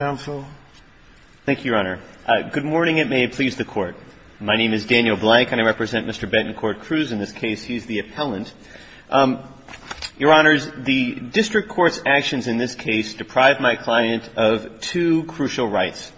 counsel. Thank you, Your Honor. Good morning, and may it please the Court. My name is Daniel Blank, and I represent Mr. Betancourt Cruz in this case. He's the appellant. Your Honors, the district court's actions in this case deprived my client of two crucial rights,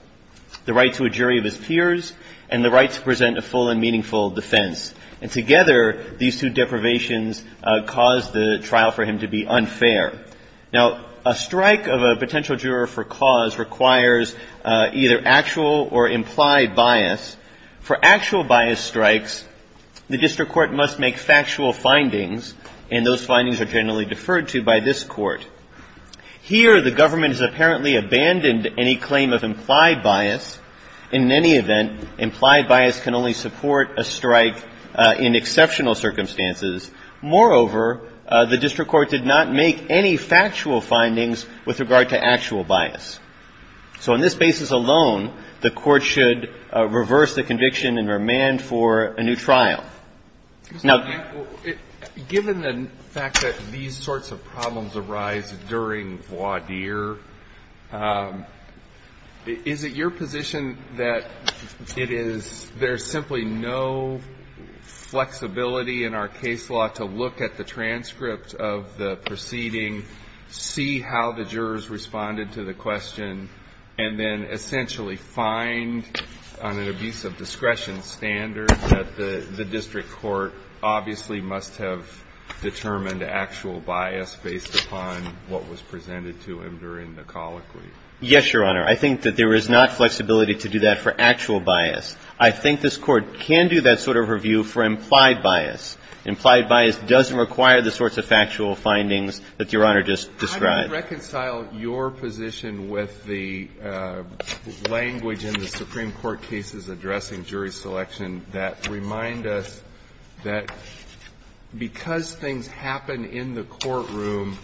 the right to a jury of his peers and the right to present a full and meaningful defense. And together, these two deprivations caused the trial for him to be unfair. Now, a strike of a potential juror for cause requires either actual or implied bias. For actual bias strikes, the district court must make factual findings, and those findings are generally deferred to by this Court. Here, the government has apparently abandoned any claim of implied bias. In any event, implied bias can only support a strike in exceptional circumstances. Moreover, the district court did not make any factual findings with regard to actual bias. So on this basis alone, the Court should reverse the conviction and remand for a new trial. Mr. Blank, given the fact that these sorts of problems arise during voir dire, is it your position that it is – there's simply no flexibility in the case law to look at the transcript of the proceeding, see how the jurors responded to the question, and then essentially find on an abuse of discretion standard that the district court obviously must have determined actual bias based upon what was presented to him during the colloquy? Yes, Your Honor. I think that there is not flexibility to do that for actual bias. I think this Court can do that sort of review for implied bias. Implied bias doesn't require the sorts of factual findings that Your Honor just described. I would reconcile your position with the language in the Supreme Court cases addressing jury selection that remind us that because things happen in the courtroom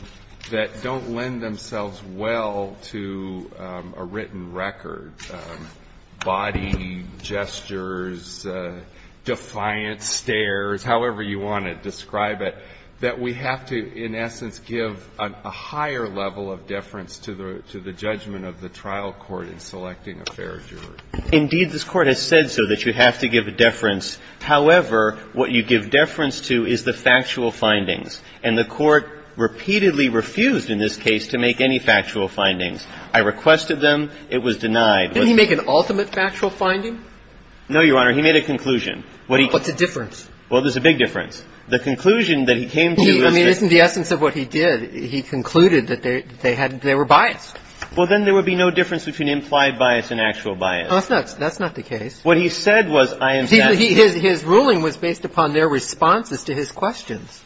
that don't lend themselves well to a written record, body, gestures, defiance, stares, however you want to describe it, that we have to, in essence, give a higher level of deference to the judgment of the trial court in selecting a fair juror. Indeed, this Court has said so, that you have to give deference. However, what you give deference to is the factual findings. And the Court repeatedly refused in this case to make any factual findings. I requested them. It was denied. Didn't he make an ultimate factual finding? No, Your Honor. He made a conclusion. What he came to was that the conclusion that he came to was that he was biased. I mean, isn't the essence of what he did, he concluded that they were biased. Well, then there would be no difference between implied bias and actual bias. No, that's not the case. What he said was, I am satisfied. But his ruling was based upon their responses to his questions.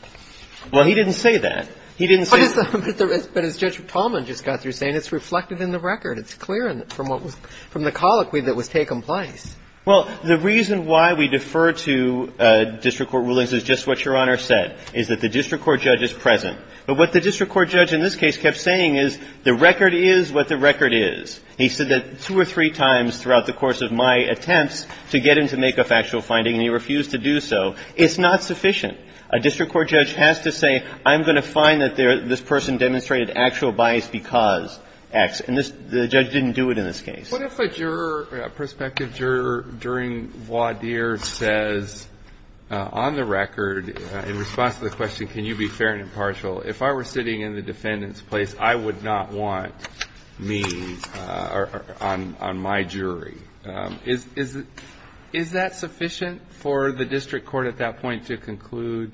Well, he didn't say that. He didn't say that. But as Judge Tallman just got through saying, it's reflected in the record. It's clear from what was the colloquy that was taking place. Well, the reason why we defer to district court rulings is just what Your Honor said, is that the district court judge is present. But what the district court judge in this case kept saying is the record is what the record is. He said that two or three times throughout the course of my attempts to get him to make a factual finding and he refused to do so. It's not sufficient. A district court judge has to say, I'm going to find that this person demonstrated actual bias because X. And the judge didn't do it in this case. What if a juror, a prospective juror during voir dire says, on the record, in response to the question, can you be fair and impartial, if I were sitting in the defendant's court and he did not want me or on my jury? Is that sufficient for the district court at that point to conclude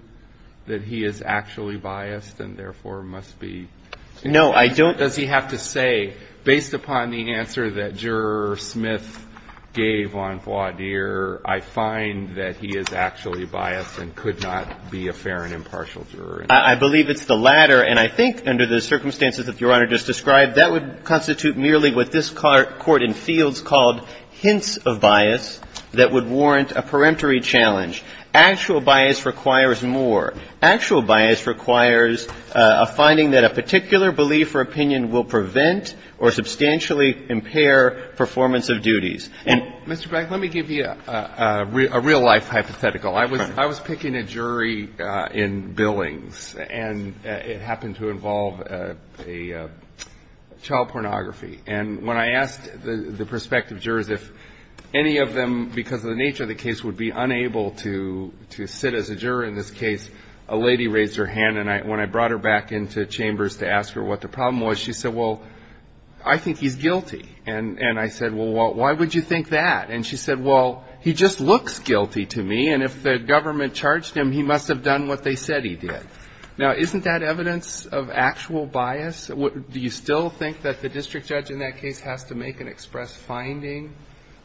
that he is actually biased and therefore must be? No, I don't think so. Does he have to say, based upon the answer that Juror Smith gave on voir dire, I find that he is actually biased and could not be a fair and impartial juror? I believe it's the latter. And I think, under the circumstances that Your Honor just described, that would constitute merely what this Court in Fields called hints of bias that would warrant a peremptory challenge. Actual bias requires more. Actual bias requires a finding that a particular belief or opinion will prevent or substantially impair performance of duties. And Mr. Beck, let me give you a real-life hypothetical. I was picking a jury in Billings. And it happened to involve a child pornography. And when I asked the prospective jurors if any of them, because of the nature of the case, would be unable to sit as a juror in this case, a lady raised her hand. And when I brought her back into chambers to ask her what the problem was, she said, well, I think he's guilty. And I said, well, why would you think that? And she said, well, he just looks guilty to me. And if the government charged him, he must have done what they said he did. Now, isn't that evidence of actual bias? Do you still think that the district judge in that case has to make an express finding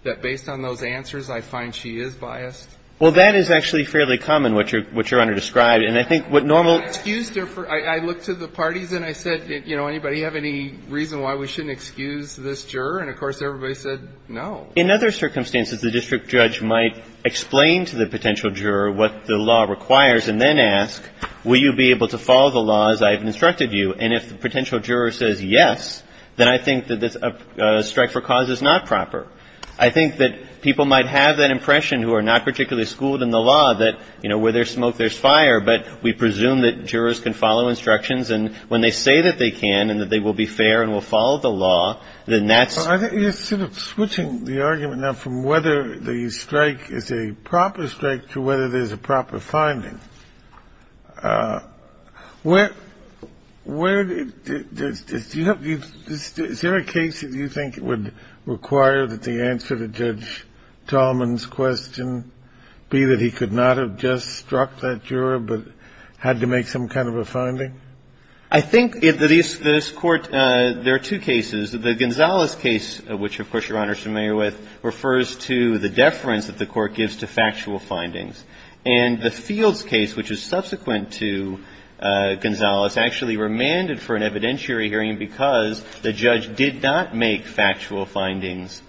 that based on those answers, I find she is biased? Well, that is actually fairly common, what you're under-described. And I think what normal ---- I looked to the parties, and I said, you know, anybody have any reason why we shouldn't excuse this juror? And of course, everybody said no. In other circumstances, the district judge might explain to the potential juror what the law requires and then ask, will you be able to follow the laws I have instructed you? And if the potential juror says yes, then I think that a strike for cause is not proper. I think that people might have that impression who are not particularly schooled in the law that, you know, where there's smoke, there's fire. But we presume that jurors can follow instructions. And when they say that they can and that they will be fair and will follow the law, then that's ---- I think you're sort of switching the argument now from whether the strike is a proper strike to whether there's a proper finding. Where do you ---- is there a case that you think would require that the answer to Judge Tallman's question be that he could not have just struck that juror but had to make some kind of a finding? I think in this Court, there are two cases. The Gonzales case, which, of course, Your Honor is familiar with, refers to the deference that the Court gives to factual findings. And the Fields case, which is subsequent to Gonzales, actually remanded for an evidentiary hearing because the judge did not make factual findings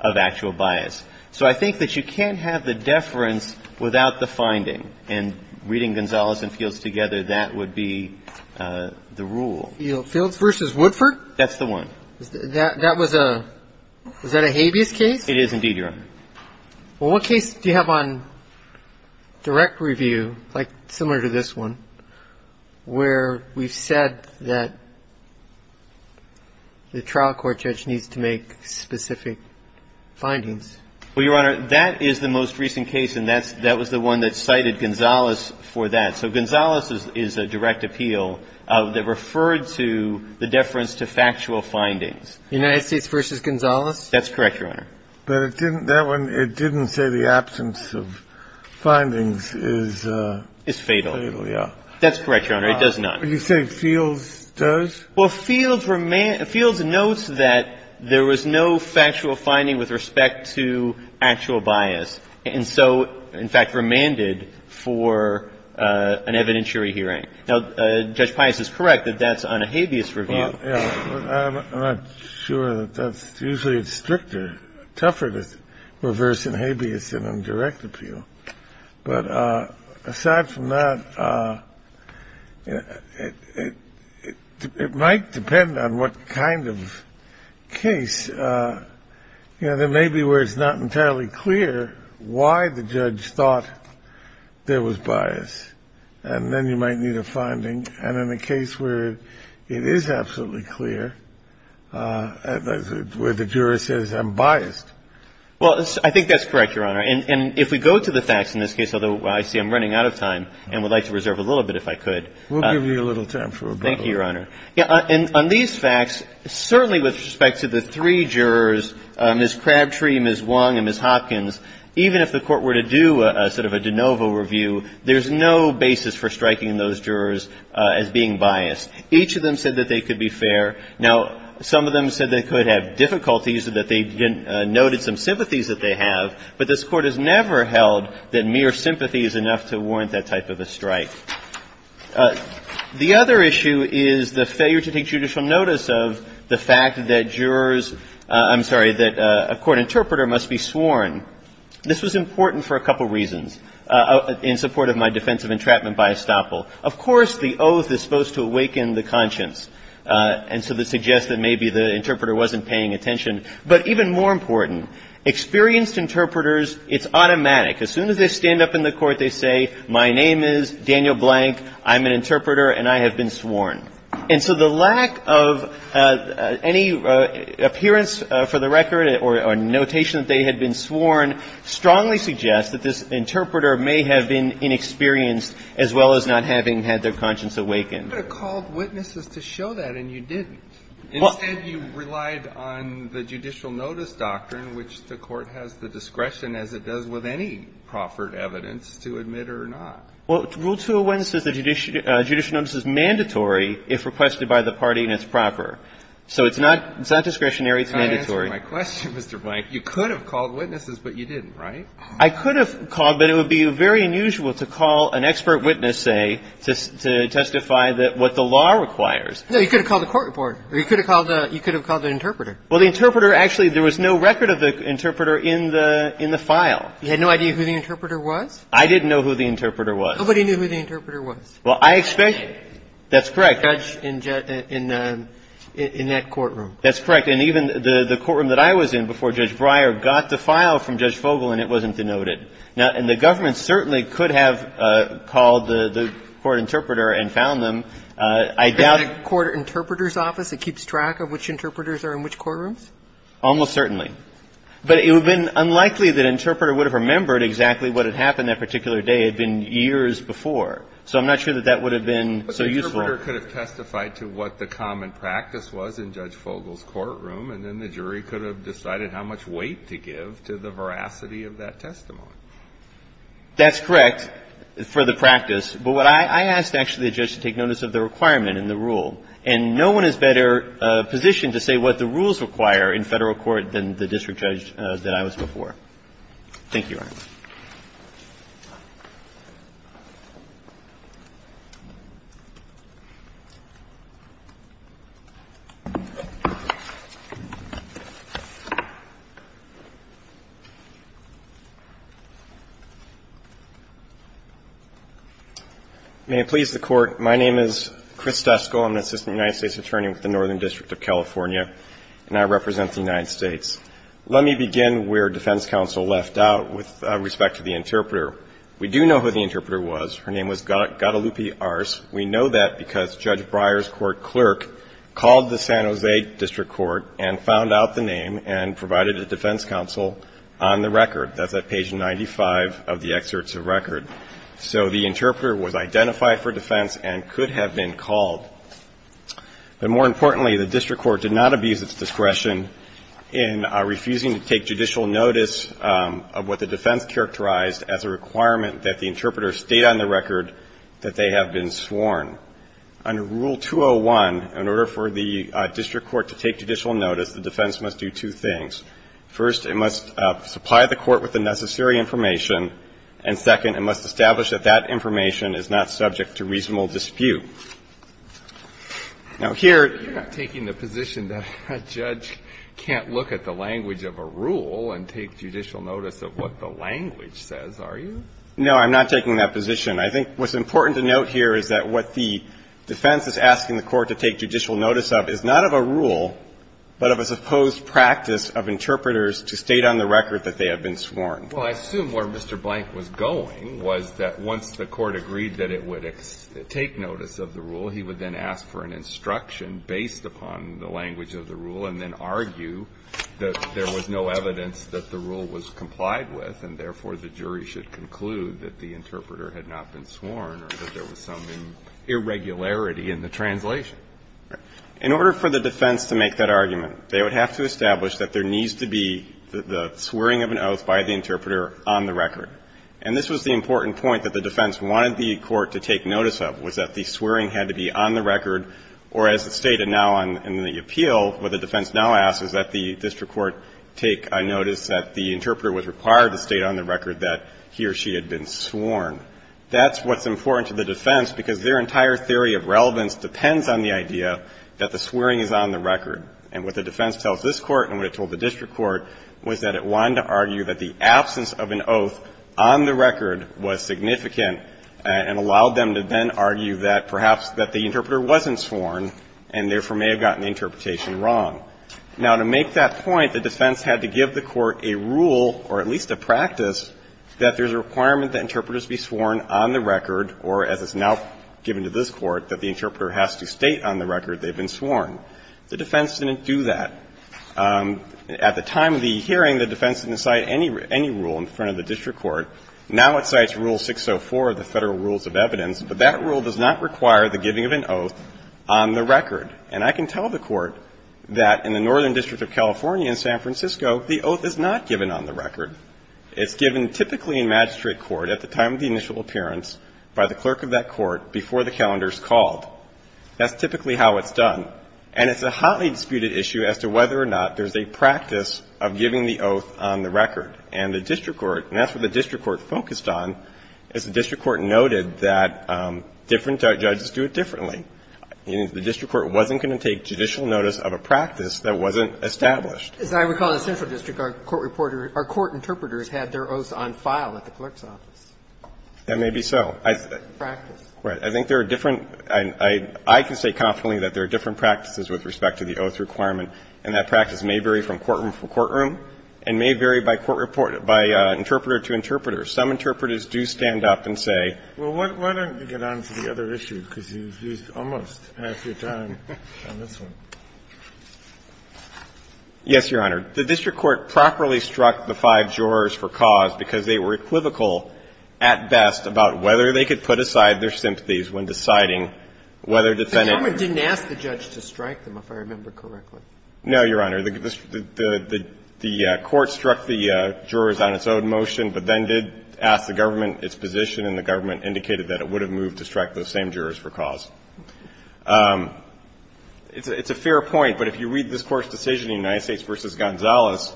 of actual bias. So I think that you can't have the deference without the finding. And reading Gonzales and Fields together, that would be the rule. Fields v. Woodford? That's the one. That was a ---- was that a habeas case? It is indeed, Your Honor. Well, what case do you have on direct review, like similar to this one, where we've said that the trial court judge needs to make specific findings? Well, Your Honor, that is the most recent case, and that was the one that cited Gonzales for that. So Gonzales is a direct appeal that referred to the deference to factual findings. United States v. Gonzales? That's correct, Your Honor. But it didn't ---- that one, it didn't say the absence of findings is fatal. It's fatal, yeah. That's correct, Your Honor. It does not. You say Fields does? Well, Fields notes that there was no factual finding with respect to actual bias, and so, in fact, remanded for an evidentiary hearing. Now, Judge Pius is correct that that's on a habeas review. Well, yeah, I'm not sure that that's usually stricter, tougher to reverse in habeas than on direct appeal. But aside from that, it might depend on what kind of case. You know, there may be where it's not entirely clear why the judge thought there was bias, and then you might need a finding. And in a case where it is absolutely clear, where the juror says, I'm biased. Well, I think that's correct, Your Honor. And if we go to the facts in this case, although I see I'm running out of time and would like to reserve a little bit if I could. We'll give you a little time for a break. Thank you, Your Honor. Yeah, and on these facts, certainly with respect to the three jurors, Ms. Crabtree, Ms. Wong, and Ms. Hopkins, even if the Court were to do a sort of a de novo review, there's no basis for striking those jurors as being biased. Each of them said that they could be fair. Now, some of them said they could have difficulties, that they noted some sympathies that they have. But this Court has never held that mere sympathy is enough to warrant that type of a strike. The other issue is the failure to take judicial notice of the fact that jurors – I'm sorry, that a court interpreter must be sworn. This was important for a couple reasons in support of my defense of entrapment by estoppel. Of course, the oath is supposed to awaken the conscience, and so this suggests that maybe the interpreter wasn't paying attention. But even more important, experienced interpreters, it's automatic. As soon as they stand up in the Court, they say, my name is Daniel Blank, I'm an interpreter, and I have been sworn. And so the lack of any appearance for the record or notation that they had been sworn strongly suggests that this interpreter may have been inexperienced, as well as not having had their conscience awakened. You could have called witnesses to show that, and you didn't. Instead, you relied on the judicial notice doctrine, which the Court has the discretion, as it does with any proffered evidence, to admit or not. Well, Rule 201 says the judicial notice is mandatory if requested by the party, and it's proper. So it's not discretionary, it's mandatory. That's not answering my question, Mr. Blank. You could have called witnesses, but you didn't, right? I could have called, but it would be very unusual to call an expert witness, say, to testify what the law requires. No, you could have called the court report, or you could have called the interpreter. Well, the interpreter – actually, there was no record of the interpreter in the file. You had no idea who the interpreter was? I didn't know who the interpreter was. Nobody knew who the interpreter was? Well, I expect – that's correct. The judge in that courtroom. That's correct. And even the courtroom that I was in before Judge Breyer got the file from Judge Fogel, and it wasn't denoted. Now, and the government certainly could have called the court interpreter and found them. I doubt – Is there a court interpreter's office that keeps track of which interpreters are in which courtrooms? Almost certainly. But it would have been unlikely that an interpreter would have remembered exactly what had happened that particular day. It had been years before. So I'm not sure that that would have been so useful. But the interpreter could have testified to what the common practice was in Judge Fogel's courtroom, and then the jury could have decided how much weight to give to the veracity of that testimony. That's correct, for the practice. But what I – I asked, actually, the judge to take notice of the requirement in the rule. And no one is better positioned to say what the rules require in Federal court than the district judge that I was before. Thank you, Your Honor. May it please the Court. My name is Chris Dusko. I'm an assistant United States attorney with the Northern District of California. And I represent the United States. Let me begin where defense counsel left out with respect to the interpreter. We do know who the interpreter was. Her name was Guadalupe Arce. We know that because Judge Breyer's court clerk called the San Jose District Court and found out the name and provided a defense counsel on the record. That's at page 95 of the excerpts of record. So the interpreter was identified for defense and could have been called. But more importantly, the district court did not abuse its discretion in refusing to take judicial notice of what the defense characterized as a requirement that the interpreter state on the record that they have been sworn. Under Rule 201, in order for the district court to take judicial notice, the defense must do two things. First, it must supply the court with the necessary information. And second, it must establish that that information is not subject to reasonable dispute. Now, here you're not taking the position that a judge can't look at the language of a rule and take judicial notice of what the language says, are you? No, I'm not taking that position. I think what's important to note here is that what the defense is asking the court to take judicial notice of is not of a rule, but of a supposed practice of interpreters to state on the record that they have been sworn. Well, I assume where Mr. Blank was going was that once the court agreed that it would take notice of the rule, he would then ask for an instruction based upon the language of the rule and then argue that there was no evidence that the rule was complied with and, therefore, the jury should conclude that the interpreter had not been sworn or that there was some irregularity in the translation. In order for the defense to make that argument, they would have to establish that there was an interpreter on the record. And this was the important point that the defense wanted the court to take notice of, was that the swearing had to be on the record or, as it stated now in the appeal, what the defense now asks is that the district court take notice that the interpreter was required to state on the record that he or she had been sworn. That's what's important to the defense because their entire theory of relevance depends on the idea that the swearing is on the record. And what the defense tells this Court and what it told the district court was that it wanted to argue that the absence of an oath on the record was significant and allowed them to then argue that perhaps that the interpreter wasn't sworn and, therefore, may have gotten the interpretation wrong. Now, to make that point, the defense had to give the court a rule or at least a practice that there's a requirement that interpreters be sworn on the record or, as it's now given to this Court, that the interpreter has to state on the record they've been sworn. The defense didn't do that. At the time of the hearing, the defense didn't cite any rule in front of the district court. Now it cites Rule 604 of the Federal Rules of Evidence, but that rule does not require the giving of an oath on the record. And I can tell the court that in the Northern District of California in San Francisco, the oath is not given on the record. It's given typically in magistrate court at the time of the initial appearance by the clerk of that court before the calendar is called. That's typically how it's done. And it's a hotly disputed issue as to whether or not there's a practice of giving the oath on the record. And the district court, and that's what the district court focused on, is the district court noted that different judges do it differently. The district court wasn't going to take judicial notice of a practice that wasn't established. As I recall in the Central District, our court reporter or court interpreters had their oaths on file at the clerk's office. That may be so. Practice. Right. I think there are different – I can say confidently that there are different practices with respect to the oath requirement, and that practice may vary from courtroom to courtroom and may vary by court reporter – by interpreter to interpreter. Some interpreters do stand up and say – Well, why don't you get on to the other issue, because you've used almost half your time on this one. Yes, Your Honor. The district court properly struck the five jurors for cause because they were equivocal at best about whether they could put aside their sympathies when deciding whether defendants – The government didn't ask the judge to strike them, if I remember correctly. No, Your Honor. The court struck the jurors on its own motion, but then did ask the government its position, and the government indicated that it would have moved to strike those same jurors for cause. It's a fair point, but if you read this Court's decision in United States v. Gonzalez,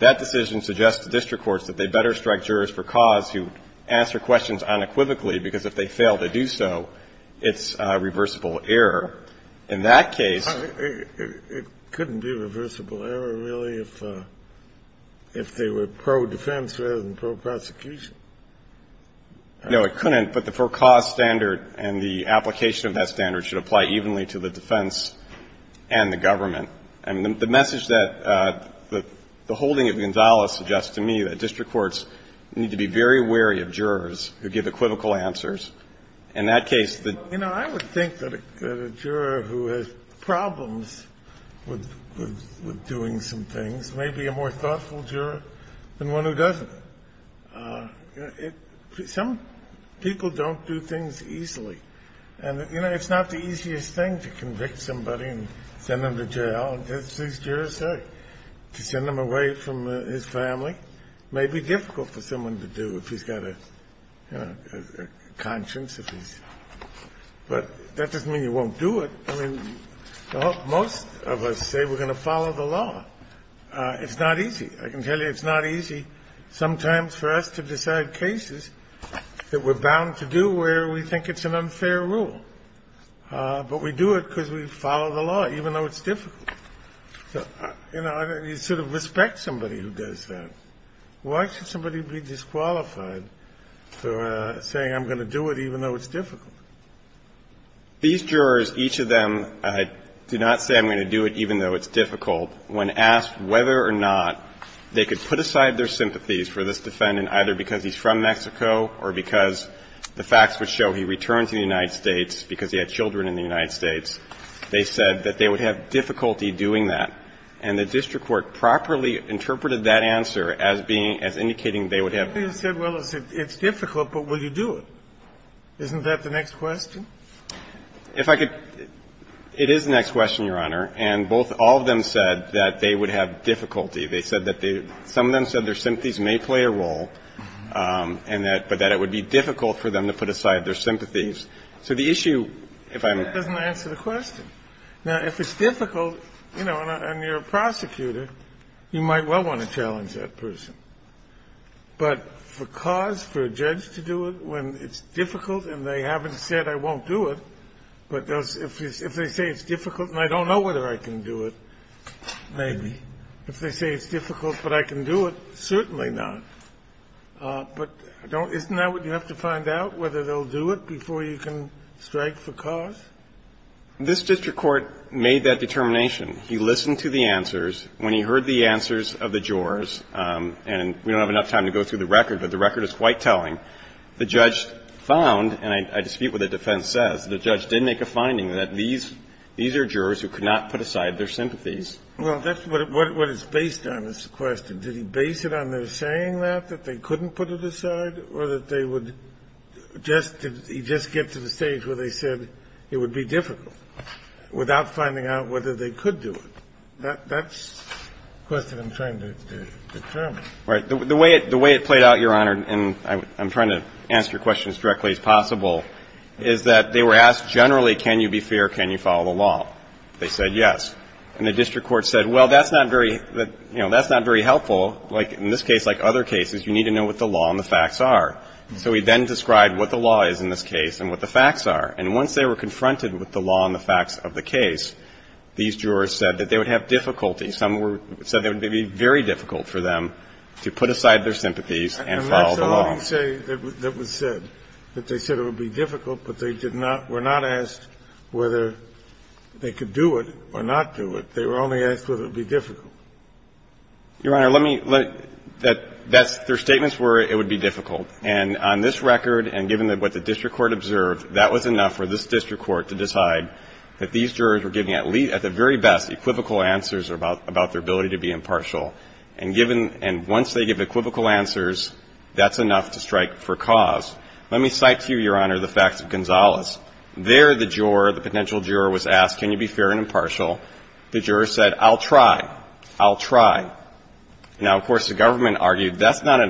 that decision suggests to district courts that they better strike jurors for cause who answer questions unequivocally, because if they fail to do so, it's a reversible error. In that case – It couldn't be a reversible error, really, if they were pro-defense rather than pro-prosecution. No, it couldn't, but the for-cause standard and the application of that standard should apply evenly to the defense and the government. And the message that the holding of Gonzalez suggests to me that district courts need to be very wary of jurors who give equivocal answers. In that case, the – You know, I would think that a juror who has problems with doing some things may be a more thoughtful juror than one who doesn't. Some people don't do things easily. And, you know, it's not the easiest thing to convict somebody and send them to jail. Well, that's at least your say. To send them away from his family may be difficult for someone to do if he's got a conscience, if he's – but that doesn't mean you won't do it. I mean, most of us say we're going to follow the law. It's not easy. I can tell you it's not easy sometimes for us to decide cases that we're bound to do where we think it's an unfair rule. But we do it because we follow the law, even though it's difficult. So, you know, you sort of respect somebody who does that. Why should somebody be disqualified for saying I'm going to do it even though it's difficult? These jurors, each of them, do not say I'm going to do it even though it's difficult. When asked whether or not they could put aside their sympathies for this defendant either because he's from Mexico or because the facts would show he returns to the United States, they said that they would have difficulty doing that. And the district court properly interpreted that answer as being – as indicating they would have – Kennedy said, well, it's difficult, but will you do it? Isn't that the next question? If I could – it is the next question, Your Honor. And both – all of them said that they would have difficulty. They said that they – some of them said their sympathies may play a role and that – but that it would be difficult for them to put aside their sympathies. So the issue, if I'm – That doesn't answer the question. Now, if it's difficult, you know, and you're a prosecutor, you might well want to challenge that person. But for cause, for a judge to do it when it's difficult and they haven't said I won't do it, but if they say it's difficult and I don't know whether I can do it, maybe. If they say it's difficult but I can do it, certainly not. But don't – isn't that what you have to find out, whether they'll do it before you can strike for cause? This district court made that determination. He listened to the answers. When he heard the answers of the jurors, and we don't have enough time to go through the record, but the record is quite telling, the judge found, and I dispute what the defense says, the judge did make a finding that these – these are jurors who could not put aside their sympathies. Well, that's what it – what it's based on is the question. Did he base it on their saying that, that they couldn't put it aside, or that they would just – he'd just get to the stage where they said it would be difficult without finding out whether they could do it? That's the question I'm trying to determine. Right. The way it – the way it played out, Your Honor, and I'm trying to answer your question as directly as possible, is that they were asked generally, can you be fair, can you follow the law? They said yes. And the district court said, well, that's not very – you know, that's not very helpful. Like in this case, like other cases, you need to know what the law and the facts are. So he then described what the law is in this case and what the facts are. And once they were confronted with the law and the facts of the case, these jurors said that they would have difficulty. Some were – said it would be very difficult for them to put aside their sympathies and follow the law. And that's all he said that was said, that they said it would be difficult, but they did not – were not asked whether they could do it or not do it. They were only asked whether it would be difficult. Your Honor, let me – that's – their statements were it would be difficult, and on this record and given what the district court observed, that was enough for this district court to decide that these jurors were giving at the very best equivocal answers about their ability to be impartial. And given – and once they give equivocal answers, that's enough to strike for cause. Let me cite to you, Your Honor, the facts of Gonzales. There the juror, the potential juror was asked, can you be fair and impartial? The juror said, I'll try. I'll try. Now, of course, the government argued that's not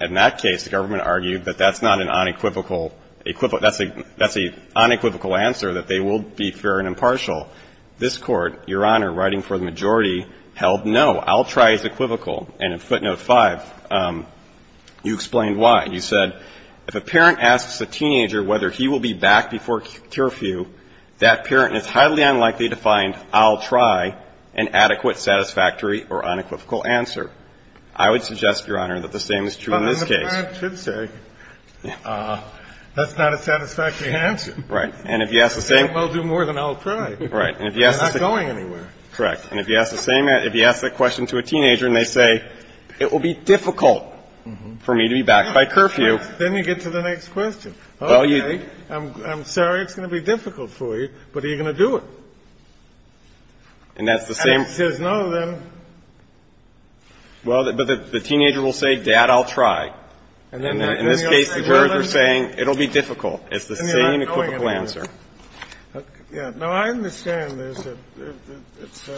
– in that case, the government argued that that's not an unequivocal – that's a unequivocal answer, that they will be fair and impartial. This Court, Your Honor, writing for the majority, held no. I'll try is equivocal. And in footnote 5, you explained why. You said, if a parent asks a teenager whether he will be back before curfew, that parent is highly unlikely to find, I'll try, an adequate satisfactory or unequivocal answer. I would suggest, Your Honor, that the same is true in this case. The parent should say, that's not a satisfactory answer. Right. And if you ask the same – They won't do more than I'll try. And if you ask the same – They're not going anywhere. Correct. And if you ask the same – if you ask that question to a teenager and they say, it will be difficult for me to be back by curfew – Then you get to the next question. Okay. I'm sorry it's going to be difficult for you, but are you going to do it? And that's the same – And if it says no, then – Well, but the teenager will say, Dad, I'll try. In this case, the jurors are saying, it will be difficult. It's the same unequivocal answer. No, I understand there's a – it's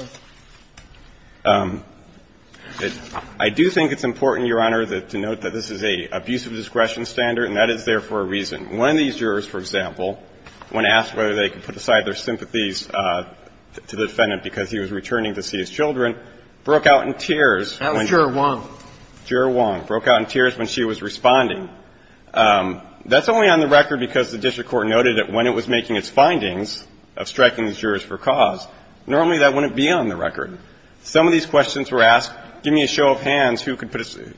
a – I do think it's important, Your Honor, to note that this is an abuse of discretion standard, and that is there for a reason. One of these jurors, for example, when asked whether they could put aside their sympathies to the defendant because he was returning to see his children, broke out in tears when – That was Juror 1. Juror 1 broke out in tears when she was responding. That's only on the record because the district court noted that when it was making its findings of striking the jurors for cause, normally that wouldn't be on the record. Some of these questions were asked, give me a show of hands who could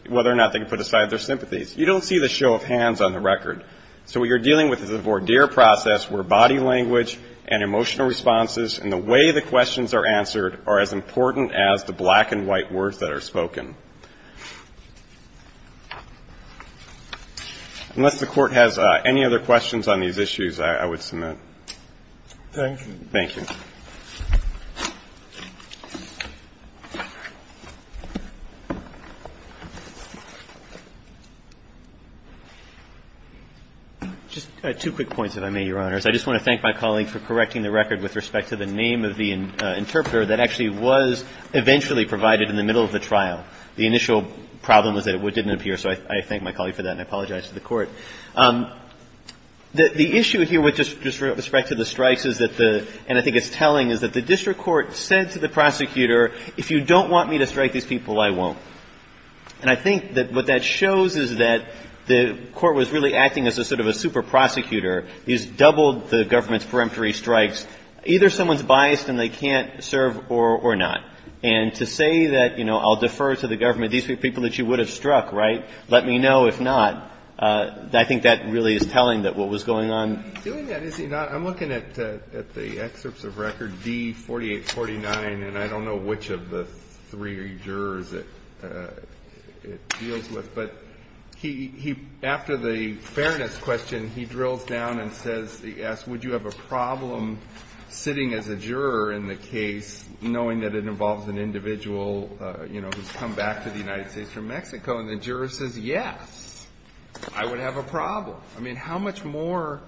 – whether or not they could put aside their sympathies. You don't see the show of hands on the record. So what you're dealing with is a voir dire process where body language and emotional responses and the way the questions are answered are as important as the black and white words that are spoken. Unless the Court has any other questions on these issues, I would submit. Thank you. Thank you. Just two quick points if I may, Your Honors. I just want to thank my colleague for correcting the record with respect to the name of the interpreter that actually was eventually provided in the middle of the trial. The initial problem was that it didn't appear. So I thank my colleague for that and I apologize to the Court. The issue here with respect to the strikes is that the – and I think it's telling is that the district court said to the prosecutor, if you don't want me to strike these people, I won't. And I think that what that shows is that the Court was really acting as a sort of a super prosecutor. He's doubled the government's peremptory strikes. Either someone's biased and they can't serve or not. And to say that, you know, I'll defer to the government. These are people that you would have struck, right? Let me know if not. I think that really is telling that what was going on. He's doing that, is he not? I'm looking at the excerpts of record D4849 and I don't know which of the three jurors it deals with. But he – after the fairness question, he drills down and says – he asks, would you have a problem sitting as a juror in the case knowing that it involves an individual, you know, who's come back to the United States from Mexico? And the juror says, yes, I would have a problem. I mean, how much more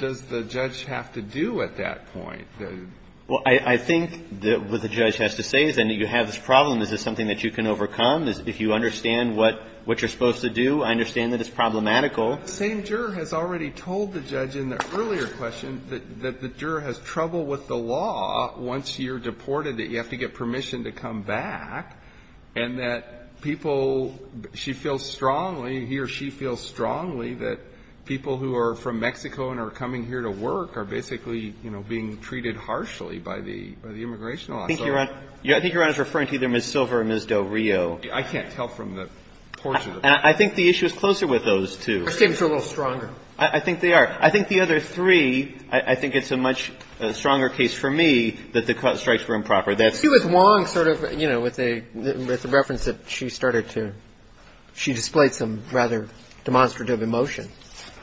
does the judge have to do at that point? Well, I think what the judge has to say is then you have this problem. Is this something that you can overcome? If you understand what you're supposed to do, I understand that it's problematical. The same juror has already told the judge in the earlier question that the juror has trouble with the law once you're deported, that you have to get permission to come back, and that people – she feels strongly, he or she feels strongly that people who are from Mexico and are coming here to work are basically, you know, being treated harshly by the immigration law. I think you're – I think you're referring to either Ms. Silver or Ms. Del Rio. I can't tell from the portrait of her. I think the issue is closer with those two. Her statements are a little stronger. I think they are. I think the other three, I think it's a much stronger case for me that the strikes were improper. She was wrong sort of, you know, with a reference that she started to – she displayed some rather demonstrative emotion.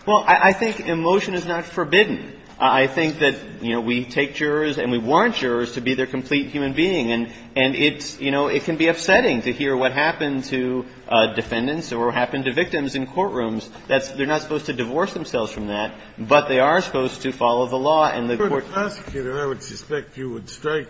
Well, I think emotion is not forbidden. I think that, you know, we take jurors and we want jurors to be their complete human being, and it's – you know, it can be upsetting to hear what happened to defendants or what happened to victims in courtrooms. That's – they're not supposed to divorce themselves from that, but they are supposed to follow the law. And the court – For the prosecutor, I would suspect you would strike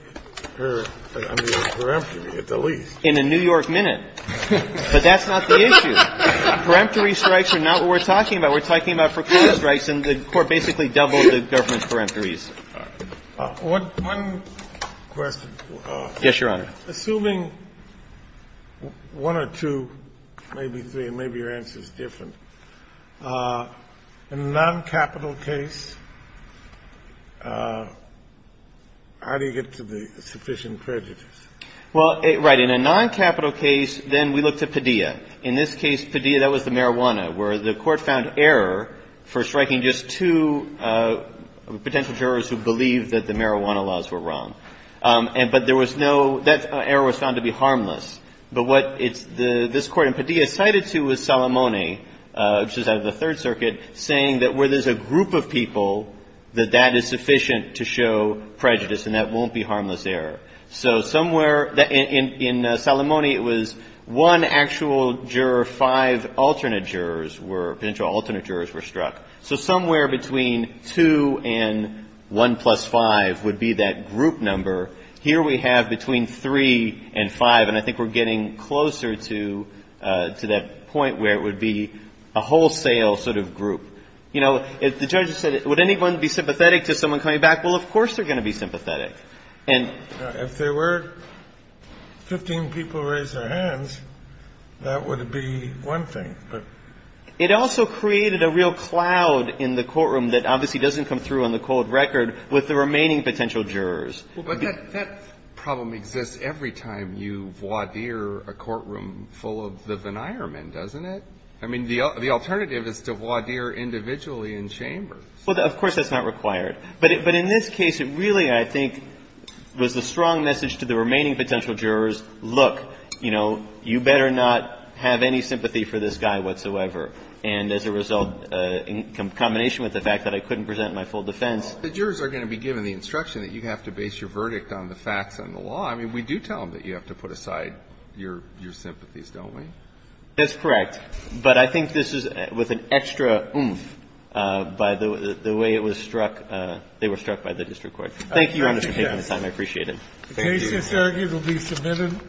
her under the peremptory at the least. In a New York minute. But that's not the issue. Peremptory strikes are not what we're talking about. We're talking about procurement strikes, and the court basically doubled the government's peremptories. One question. Yes, Your Honor. Assuming one or two, maybe three, maybe your answer is different, in a noncapital case, how do you get to the sufficient prejudice? Well, right. In a noncapital case, then we look to Padilla. In this case, Padilla, that was the marijuana, where the court found error for striking just two potential jurors who believed that the marijuana laws were wrong. But there was no – that error was found to be harmless. But what this court in Padilla cited to was Salamone, which is out of the Third Circuit, saying that where there's a group of people, that that is sufficient to show prejudice, and that won't be harmless error. So somewhere – in Salamone, it was one actual juror, five alternate jurors were – potential alternate jurors were struck. So somewhere between two and one plus five would be that group number. Here we have between three and five, and I think we're getting closer to that point where it would be a wholesale sort of group. You know, the judge said, would anyone be sympathetic to someone coming back? Well, of course they're going to be sympathetic. If there were 15 people who raised their hands, that would be one thing. It also created a real cloud in the courtroom that obviously doesn't come through on the cold record with the remaining potential jurors. But that problem exists every time you voir dire a courtroom full of the denier men, doesn't it? I mean, the alternative is to voir dire individually in chambers. Well, of course that's not required. But in this case, it really, I think, was the strong message to the remaining potential jurors, look, you know, you better not have any sympathy for this guy whatsoever. And as a result, in combination with the fact that I couldn't present my full defense. Well, the jurors are going to be given the instruction that you have to base your verdict on the facts and the law. I mean, we do tell them that you have to put aside your sympathies, don't we? That's correct. But I think this is with an extra oomph by the way it was struck. They were struck by the district court. Thank you, Your Honor, for taking the time. I appreciate it. Thank you. The case, it's argued, will be submitted.